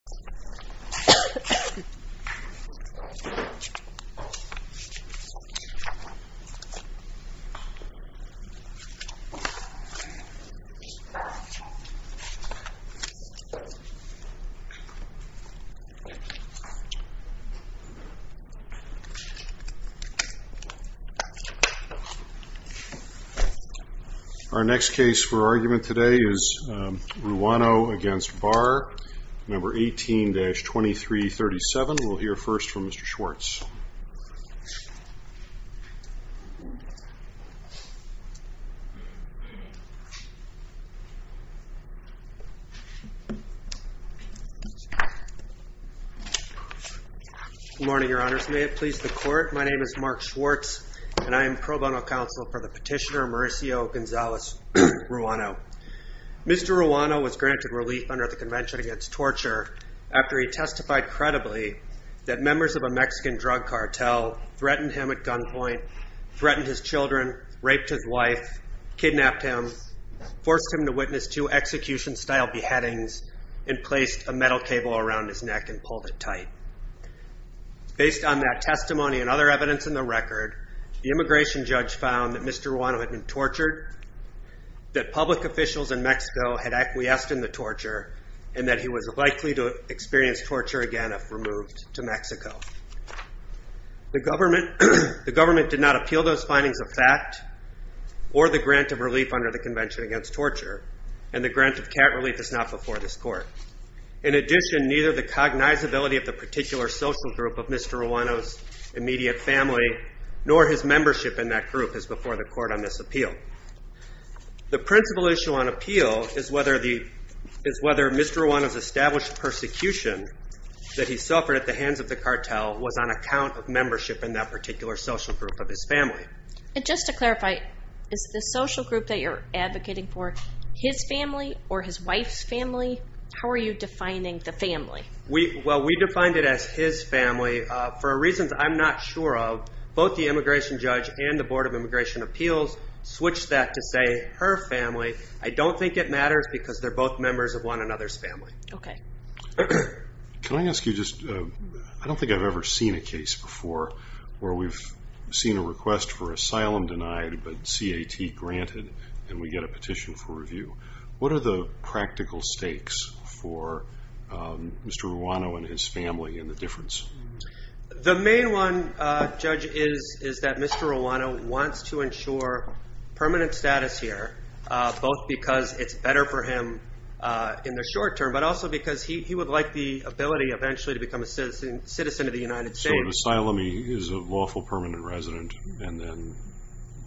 Our next petitioner is Mr. Mark Schwartz for 18-2337. We'll hear first from Mr. Schwartz. Mark Schwartz Good morning, your honors. May it please the court, my name is Mark Schwartz and I am pro bono counsel for the petitioner Mauricio Gonzalez Ruano. Mr. Ruano was granted relief under the Convention Against Torture after he testified credibly that members of a Mexican drug cartel threatened him at gunpoint, threatened his children, raped his wife, kidnapped him, forced him to witness two execution-style beheadings, and placed a metal cable around his neck and pulled it tight. Based on that testimony and other evidence in the record, the immigration judge found that Mr. Ruano had been tortured, that public officials in that he was likely to experience torture again if removed to Mexico. The government did not appeal those findings of fact or the grant of relief under the Convention Against Torture, and the grant of cat relief is not before this court. In addition, neither the cognizability of the particular social group of Mr. Ruano's immediate family nor his membership in that is whether Mr. Ruano's established persecution that he suffered at the hands of the cartel was on account of membership in that particular social group of his family. And just to clarify, is the social group that you're advocating for his family or his wife's family? How are you defining the family? Well, we defined it as his family for reasons I'm not sure of. Both the immigration judge and the Board of Immigration Appeals switched that to say her family. I don't think it matters because they're both members of one another's family. Okay. Can I ask you just, I don't think I've ever seen a case before where we've seen a request for asylum denied, but CAT granted, and we get a petition for review. What are the practical stakes for Mr. Ruano and his family and the difference? The main one, Judge, is that Mr. Ruano wants to ensure permanent status here, both because it's better for him in the short term, but also because he would like the ability eventually to become a citizen of the United States. So an asylee is a lawful permanent resident,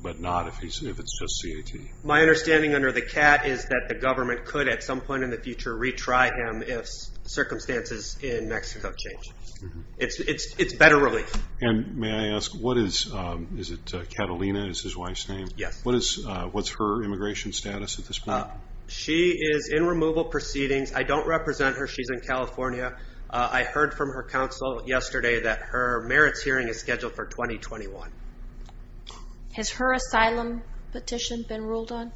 but not if it's just CAT? My understanding under the CAT is that the government could at some point in the future retry him if circumstances in Mexico change. It's better relief. And may I ask what's her immigration status at this point? She is in removal proceedings. I don't represent her. She's in California. I heard from her counsel yesterday that her merits hearing is scheduled for 2021. Has her asylum petition been ruled on?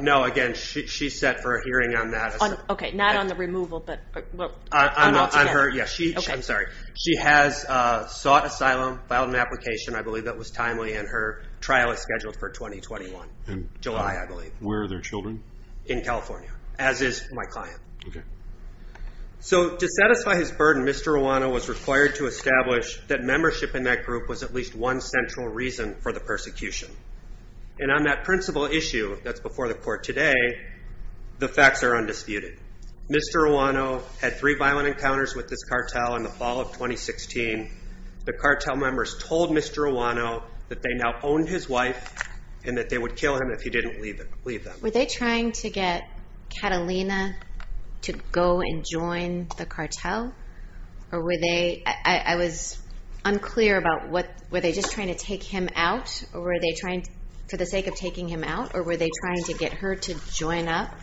No, again, she's set for a hearing on that. Okay, not on the removal, but on all together. I'm sorry. She has sought asylum, filed an application, I believe that was timely, and her trial is scheduled for 2021, July, I believe. Where are their children? In California, as is my client. Okay. So to satisfy his burden, Mr. Ruano was required to establish that membership in that group was at least one central reason for the persecution. And on that principal issue that's before the court today, the facts are undisputed. Mr. Ruano had three children. Mr. Ruano, that they now owned his wife, and that they would kill him if he didn't leave them. Were they trying to get Catalina to go and join the cartel? Or were they, I was unclear about what, were they just trying to take him out? Or were they trying, for the sake of taking him out? Or were they trying to get her to join up?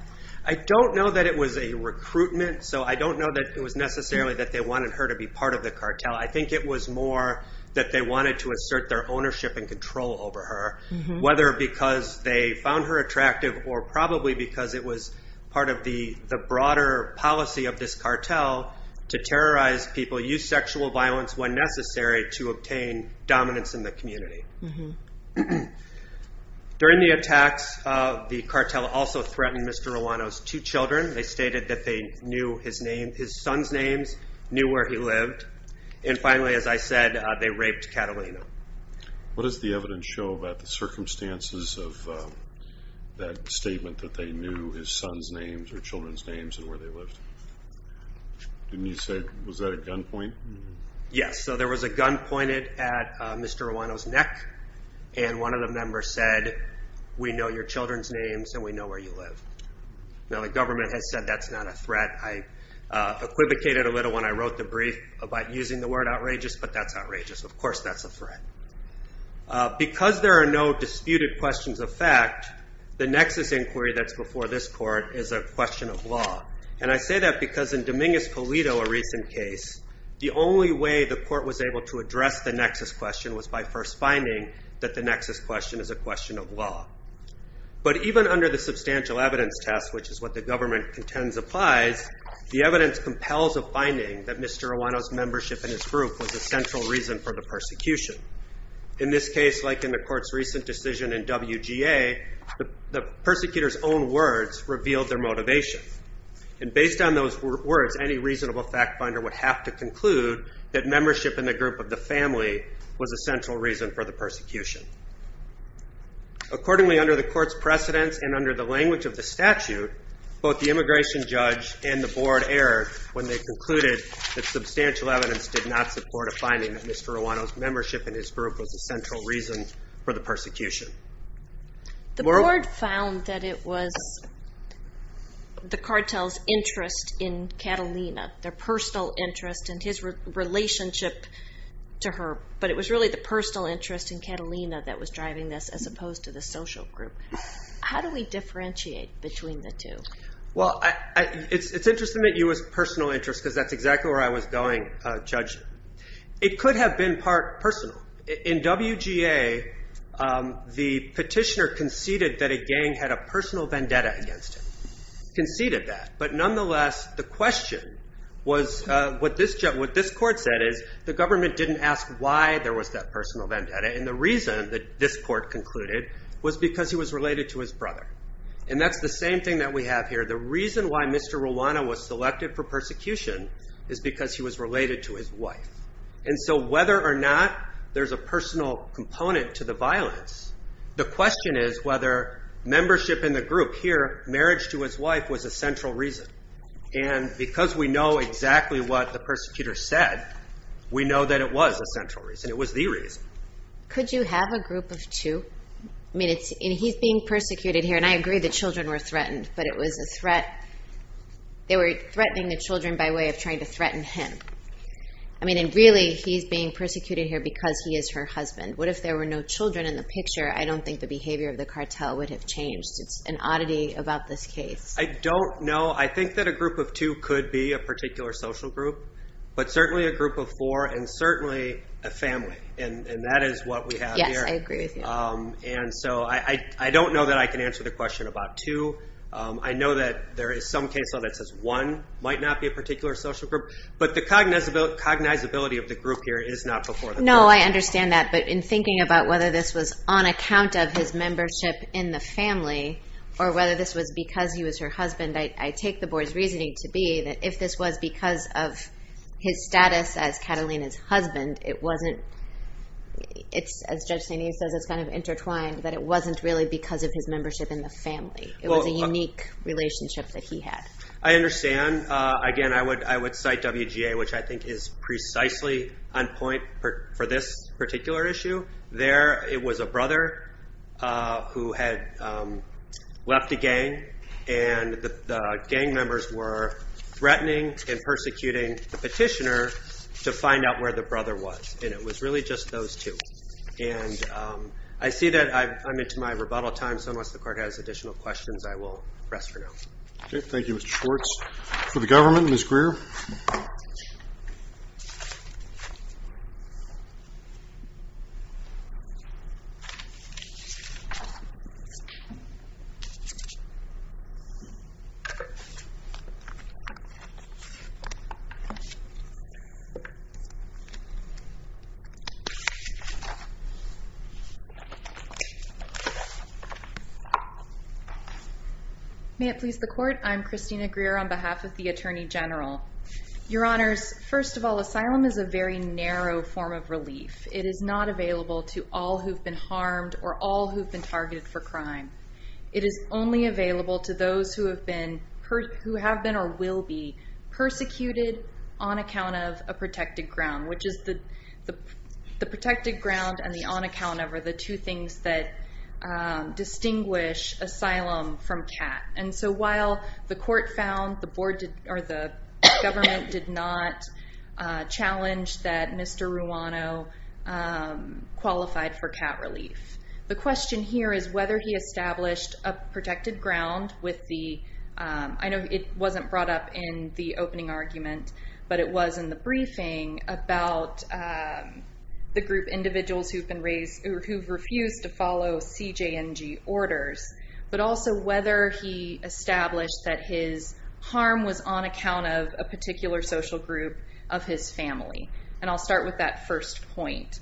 I don't know that it was a recruitment. So I don't know that it was necessarily that they wanted her to be part of the cartel. I think it was more that they wanted to assert their ownership and control over her, whether because they found her attractive or probably because it was part of the broader policy of this cartel to terrorize people, use sexual violence when necessary to obtain dominance in the community. During the attacks, the cartel also threatened Mr. Ruano's two children. They stated that they knew his name, his son's names, knew where he lived. And finally, as I said, they raped Catalina. What does the evidence show about the circumstances of that statement that they knew his son's names or children's names and where they lived? Didn't you say, was that a gunpoint? Yes, so there was a gun pointed at Mr. Ruano's neck and one of the members said, we know your children's names and we know where you live. Now the government has said that's not a threat. I equivocated a little when I wrote the brief about using the word outrageous, but that's outrageous. Of course that's a threat. Because there are no disputed questions of fact, the nexus inquiry that's before this court is a question of law. And I say that because in Dominguez Pulido, a recent case, the only way the court was able to address the nexus question was by first finding that the nexus question is a question of law. But even under the substantial evidence test, which is what the government contends applies, the evidence compels a finding that Mr. Ruano's membership in his group was a central reason for the persecution. In this case, like in the court's recent decision in WGA, the persecutor's own words revealed their motivation. And based on those words, any reasonable fact finder would have to conclude that membership in the group of the family was a central reason for the persecution. Accordingly, under the court's precedence and under the language of the statute, both the immigration judge and the board erred when they concluded that substantial evidence did not support a finding that Mr. Ruano's membership in his group was a central reason for the persecution. The board found that it was the cartel's interest in Catalina, their personal interest and his personal interest in Catalina that was driving this, as opposed to the social group. How do we differentiate between the two? Well, it's interesting that you use personal interest because that's exactly where I was going, Judge. It could have been part personal. In WGA, the petitioner conceded that a gang had a personal vendetta against him, conceded that. But nonetheless, the question was what this court said is the government didn't ask why there was that personal vendetta. And the reason that this court concluded was because he was related to his brother. And that's the same thing that we have here. The reason why Mr. Ruano was selected for persecution is because he was related to his wife. And so whether or not there's a personal component to the violence, the question is whether membership in the group here, marriage to his wife, was a central reason. And because we know exactly what the persecutor said, we know that it was a central reason. It was the reason. Could you have a group of two? I mean, he's being persecuted here. And I agree the children were threatened, but it was a threat. They were threatening the children by way of trying to threaten him. I mean, really, he's being persecuted here because he is her husband. What if there were no children in the picture? I don't think the behavior of the cartel would have changed. It's an oddity about this case. I don't know. I think that a group of two could be a particular social group, but certainly a group of four and certainly a family. And that is what we have here. Yes, I agree with you. And so I don't know that I can answer the question about two. I know that there is some case law that says one might not be a particular social group. But the cognizability of the group here is not before the court. No, I understand that. But in thinking about whether this was on account of his membership in the family or her husband, I take the board's reasoning to be that if this was because of his status as Catalina's husband, it wasn't, it's as Judge Sainee says, it's kind of intertwined, that it wasn't really because of his membership in the family. It was a unique relationship that he had. I understand. Again, I would cite WGA, which I think is precisely on point for this particular issue. There, it was a brother who had left the gang, and the gang members were threatening and persecuting the petitioner to find out where the brother was. And it was really just those two. And I see that I'm into my rebuttal time, so unless the court has additional questions, I will rest for now. Okay, thank you, Mr. Schwartz. For the government, Ms. Greer. May it please the court, I'm Christina Greer on behalf of the Attorney General. Your Honors, first of all, asylum is a very narrow form of relief. It is not available to all who've been harmed or all who've been targeted for crime. It is only available to those who have been or will be persecuted on account of a protected ground, which is the protected ground and the on account of are the government did not challenge that Mr. Ruano qualified for cat relief. The question here is whether he established a protected ground with the, I know it wasn't brought up in the opening argument, but it was in the briefing about the group individuals who've refused to follow CJNG orders, but also whether he established that his harm was on account of a particular social group of his family. And I'll start with that first point.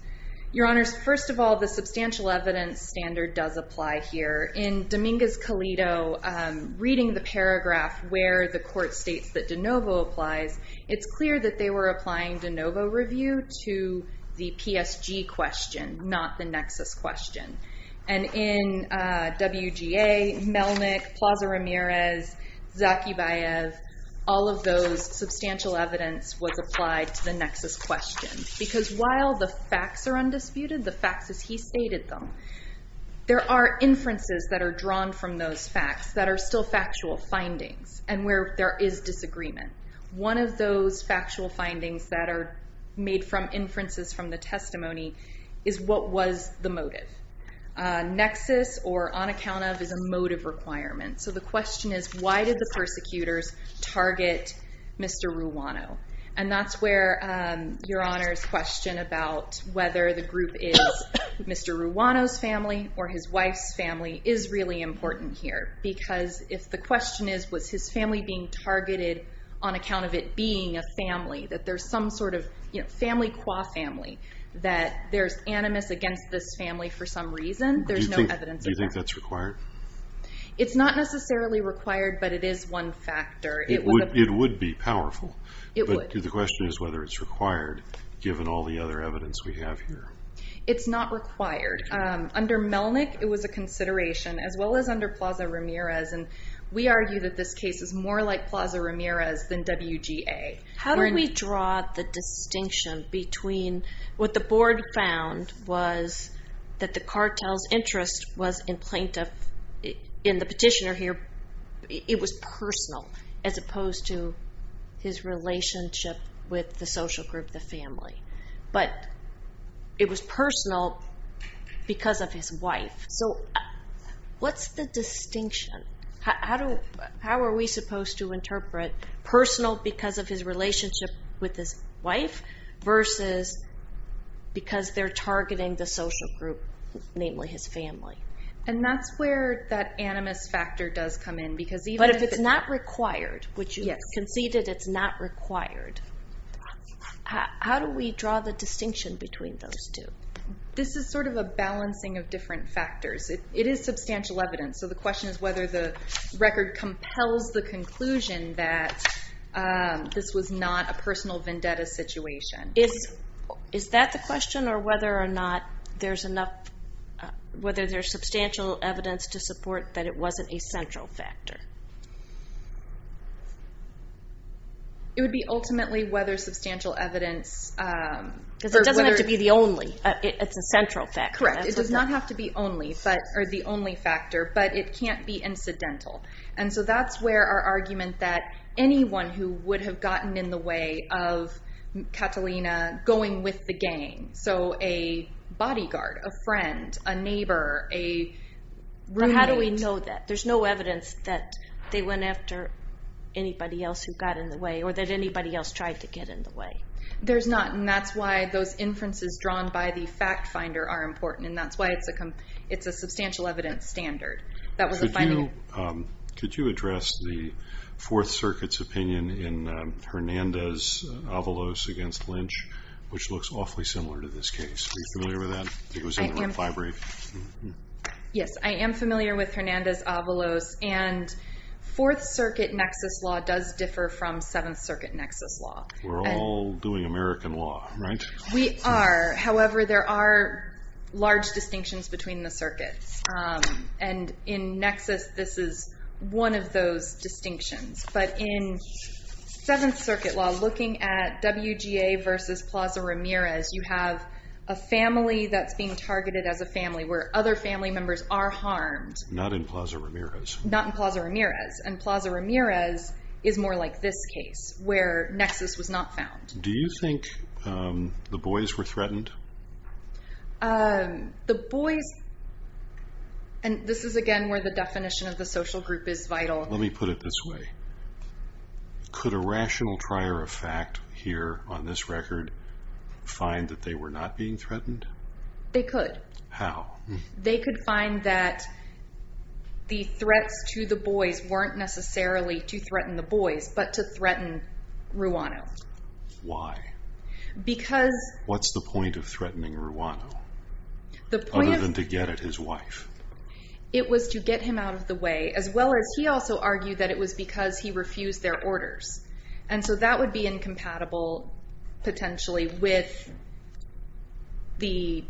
Your Honors, first of all, the substantial evidence standard does apply here. In Dominguez-Colito, reading the paragraph where the court states that de novo applies, it's clear that they were applying de novo review to the PSG question, not the nexus question. And in WGA, Melnick, Plaza Ramirez, Zakivaev, all of those substantial evidence was applied to the nexus question. Because while the facts are undisputed, the facts as he stated them, there are inferences that are drawn from those facts that are still made from inferences from the testimony, is what was the motive. Nexus, or on account of, is a motive requirement. So the question is, why did the persecutors target Mr. Ruano? And that's where Your Honors' question about whether the group is Mr. Ruano's family or his wife's family is really important here. Because if the question is, was his family being targeted on account of it being a family, that there's some sort of family qua family, that there's animus against this family for some reason, there's no evidence of that. Do you think that's required? It's not necessarily required, but it is one factor. It would be powerful. It would. But the question is whether it's required, given all the other evidence we have here. It's not required. Under Melnick, it was a consideration, as well as under Plaza-Ramirez. And we argue that this case is more like Plaza-Ramirez than WGA. How do we draw the distinction between what the board found was that the cartel's interest was in plaintiff, in the petitioner here, it was personal, as opposed to his relationship with the social group, the family. But it was personal because of his wife. So what's the distinction? How are we supposed to interpret personal because of his relationship with his wife, versus because they're targeting the social group, namely his family? And that's where that animus factor does come in. But if it's not required, which you conceded it's not required, how do we draw the distinction between those two? This is sort of a balancing of different factors. It is substantial evidence, so the question is whether the record compels the conclusion that this was not a personal vendetta situation. Is that the question, or whether there's substantial evidence to support that it wasn't a central factor? It would be ultimately whether substantial evidence... Because it doesn't have to be the only, it's a central factor. Correct. It does not have to be the only factor, but it can't be incidental. And so that's where our argument that anyone who would have gotten in the way of Catalina going with the gang, so a bodyguard, a friend, a neighbor, a roommate... But how do we know that? There's no evidence that they went after anybody else who got in the way, or that anybody else tried to get in the way. There's not, and that's why those inferences drawn by the fact finder are important, and that's why it's a substantial evidence standard. Could you address the Fourth Circuit's opinion in Hernandez-Avalos against Lynch, which looks awfully similar to this case? Are you familiar with that? It was in the library. Yes, I am familiar with Hernandez-Avalos, and Fourth Circuit nexus law does differ from Seventh Circuit nexus law. We're all doing American law, right? We are. However, there are large distinctions between the circuits, and in nexus this is one of those distinctions. But in Seventh Circuit law, looking at WGA versus Plaza Ramirez, you have a family that's being targeted as a family, where other family members are harmed. Not in Plaza Ramirez. Not in Plaza Ramirez. And Plaza Ramirez is more like this case, where nexus was not found. Do you think the boys were threatened? The boys, and this is, again, where the definition of the social group is vital. Let me put it this way. Could a rational trier of fact here on this record find that they were not being threatened? They could. How? They could find that the threats to the boys weren't necessarily to threaten the boys, but to threaten Ruano. Why? Because... What's the point of threatening Ruano, other than to get at his wife? It was to get him out of the way, as well as he also argued that it was because he refused their orders. And so that would be incompatible, potentially, with his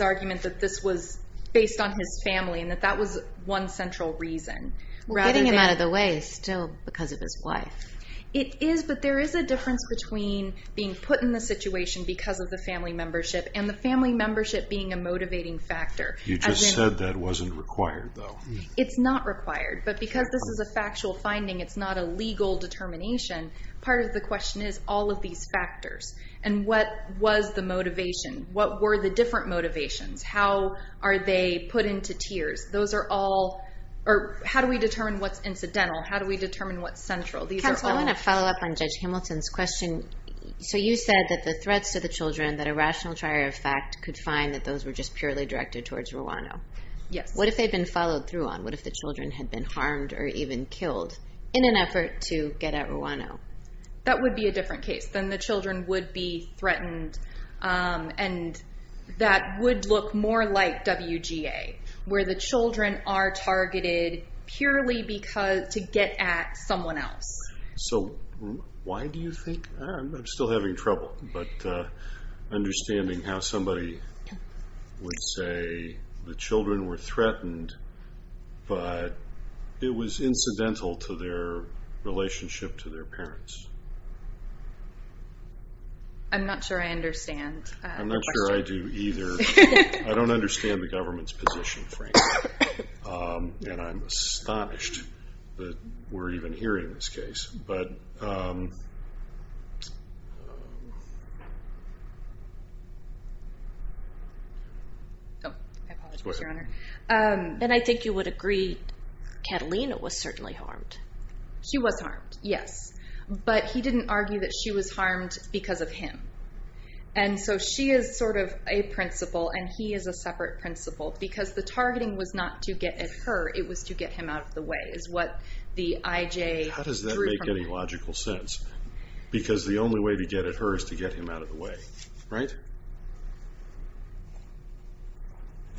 argument that this was based on his family, and that that was one central reason. Getting him out of the way is still because of his wife. It is, but there is a difference between being put in the situation because of the family membership, and the family membership being a motivating factor. You just said that wasn't required, though. It's not required, but because this is a factual finding, it's not a legal determination, part of the question is all of these factors. And what was the motivation? What were the different motivations? How are they put into tiers? Those are all, or how do we determine what's incidental? How do we determine what's central? Counsel, I want to follow up on Judge Hamilton's question. So you said that the threats to the children, that a rational trier of fact, could find that those were just purely directed towards Ruano. Yes. What if they'd been followed through on? What if the children had been harmed or even killed in an effort to get at Ruano? That would be a different case. Then the children would be threatened, and that would look more like WGA, where the children are targeted purely to get at someone else. So why do you think, I'm still having trouble, but understanding how somebody would say the children were threatened, but it was incidental to their relationship to their parents. I'm not sure I understand the question. I'm not sure I do either. I don't understand the government's position, frankly, and I'm astonished that we're even hearing this case. My apologies, Your Honor. And I think you would agree Catalina was certainly harmed. She was harmed, yes. But he didn't argue that she was harmed because of him. And so she is sort of a principal, and he is a separate principal, because the targeting was not to get at her. It was to get him out of the way, is what the IJ drew from it. How does that make any logical sense? Because the only way to get at her is to get him out of the way, right?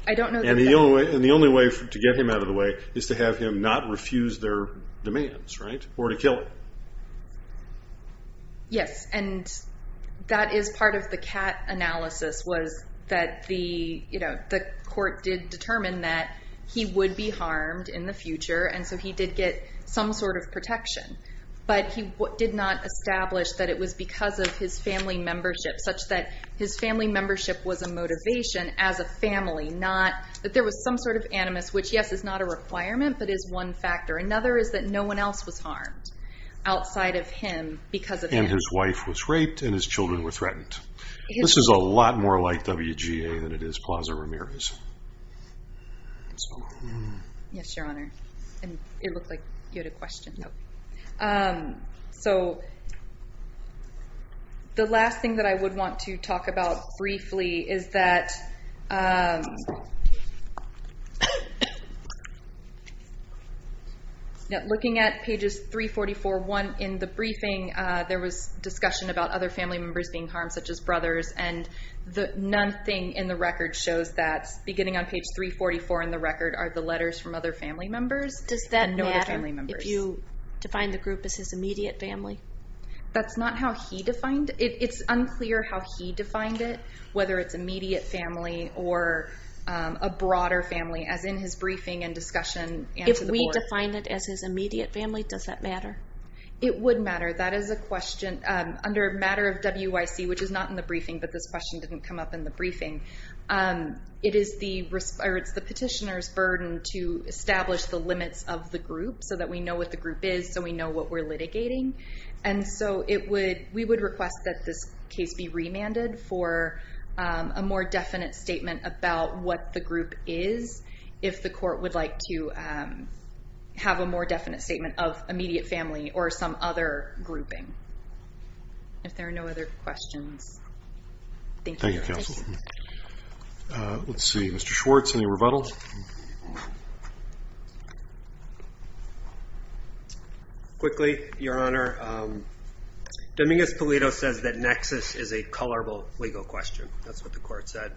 And the only way to get him out of the way is to have him not refuse their demands, right, or to kill him. Yes. And that is part of the CAT analysis, was that the court did determine that he would be harmed in the future, and so he did get some sort of protection. But he did not establish that it was because of his family membership, such that his family membership was a motivation as a family, not that there was some sort of animus, which, yes, is not a requirement, but is one factor. Another is that no one else was harmed outside of him because of him. And his wife was raped, and his children were threatened. This is a lot more like WGA than it is Plaza Ramirez. Yes, Your Honor. It looked like you had a question. No. So the last thing that I would want to talk about briefly is that, looking at pages 344.1 in the briefing, there was discussion about other family members being harmed, such as brothers, and nothing in the record shows that, beginning on page 344 in the record, are the letters from other family members. Does that matter if you define the group as his immediate family? That's not how he defined it. It's unclear how he defined it, whether it's immediate family or a broader family, as in his briefing and discussion. If we define it as his immediate family, does that matter? It would matter. That is a question. Under a matter of WIC, which is not in the briefing, but this question didn't come up in the briefing, it is the petitioner's burden to establish the limits of the group so that we know what the group is, so we know what we're litigating. And so we would request that this case be remanded for a more definite statement about what the group is, if the court would like to have a more definite statement of immediate family or some other grouping. If there are no other questions, thank you. Thank you, counsel. Let's see, Mr. Schwartz, any rebuttals? Quickly, Your Honor, Dominguez-Polito says that nexus is a colorable legal question. That's what the court said.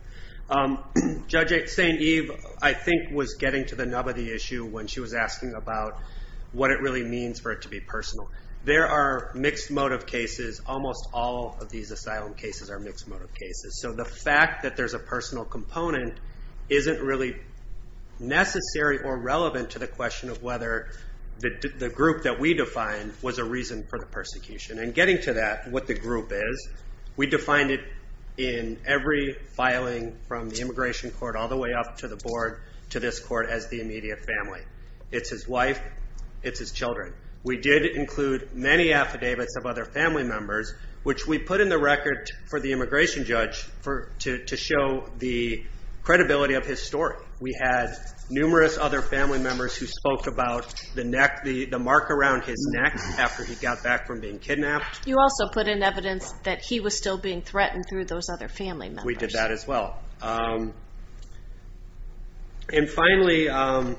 Judge St. Eve, I think, was getting to the nub of the issue when she was asking about what it really means for it to be personal. There are mixed motive cases. Almost all of these asylum cases are mixed motive cases. So the fact that there's a personal component isn't really necessary or relevant to the question of whether the group that we defined was a reason for the persecution. And getting to that, what the group is, we defined it in every filing from the immigration court all the way up to the board to this court as the immediate family. It's his wife, it's his children. We did include many affidavits of other family members, which we put in the record for the immigration judge to show the credibility of his story. We had numerous other family members who spoke about the mark around his neck after he got back from being kidnapped. You also put in evidence that he was still being threatened through those other family members. We did that as well. And finally, of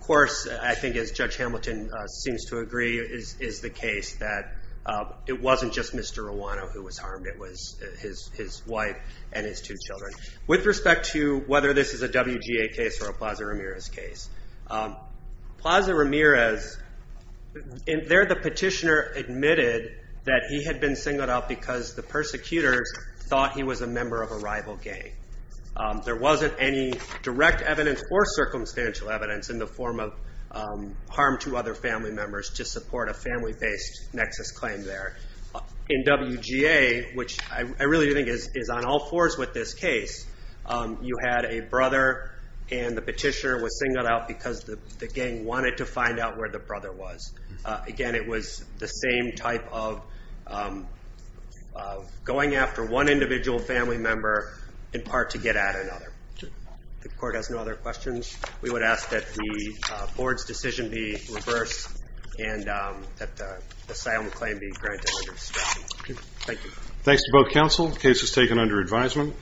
course, I think as Judge Hamilton seems to agree, is the case that it wasn't just Mr. Ruano who was harmed, it was his wife and his two children. With respect to whether this is a WGA case or a Plaza Ramirez case, Plaza Ramirez, there the petitioner admitted that he had been singled out because the persecutors thought he was a member of a rival gang. There wasn't any direct evidence or circumstantial evidence in the form of harm to other family members to support a family-based nexus claim there. In WGA, which I really think is on all fours with this case, you had a brother and the petitioner was singled out because the gang wanted to find out where the brother was. Again, it was the same type of going after one individual family member in part to get at another. If the court has no other questions, we would ask that the board's decision be reversed and that the asylum claim be granted. Thank you. Thanks to both counsel. The case is taken under advisement.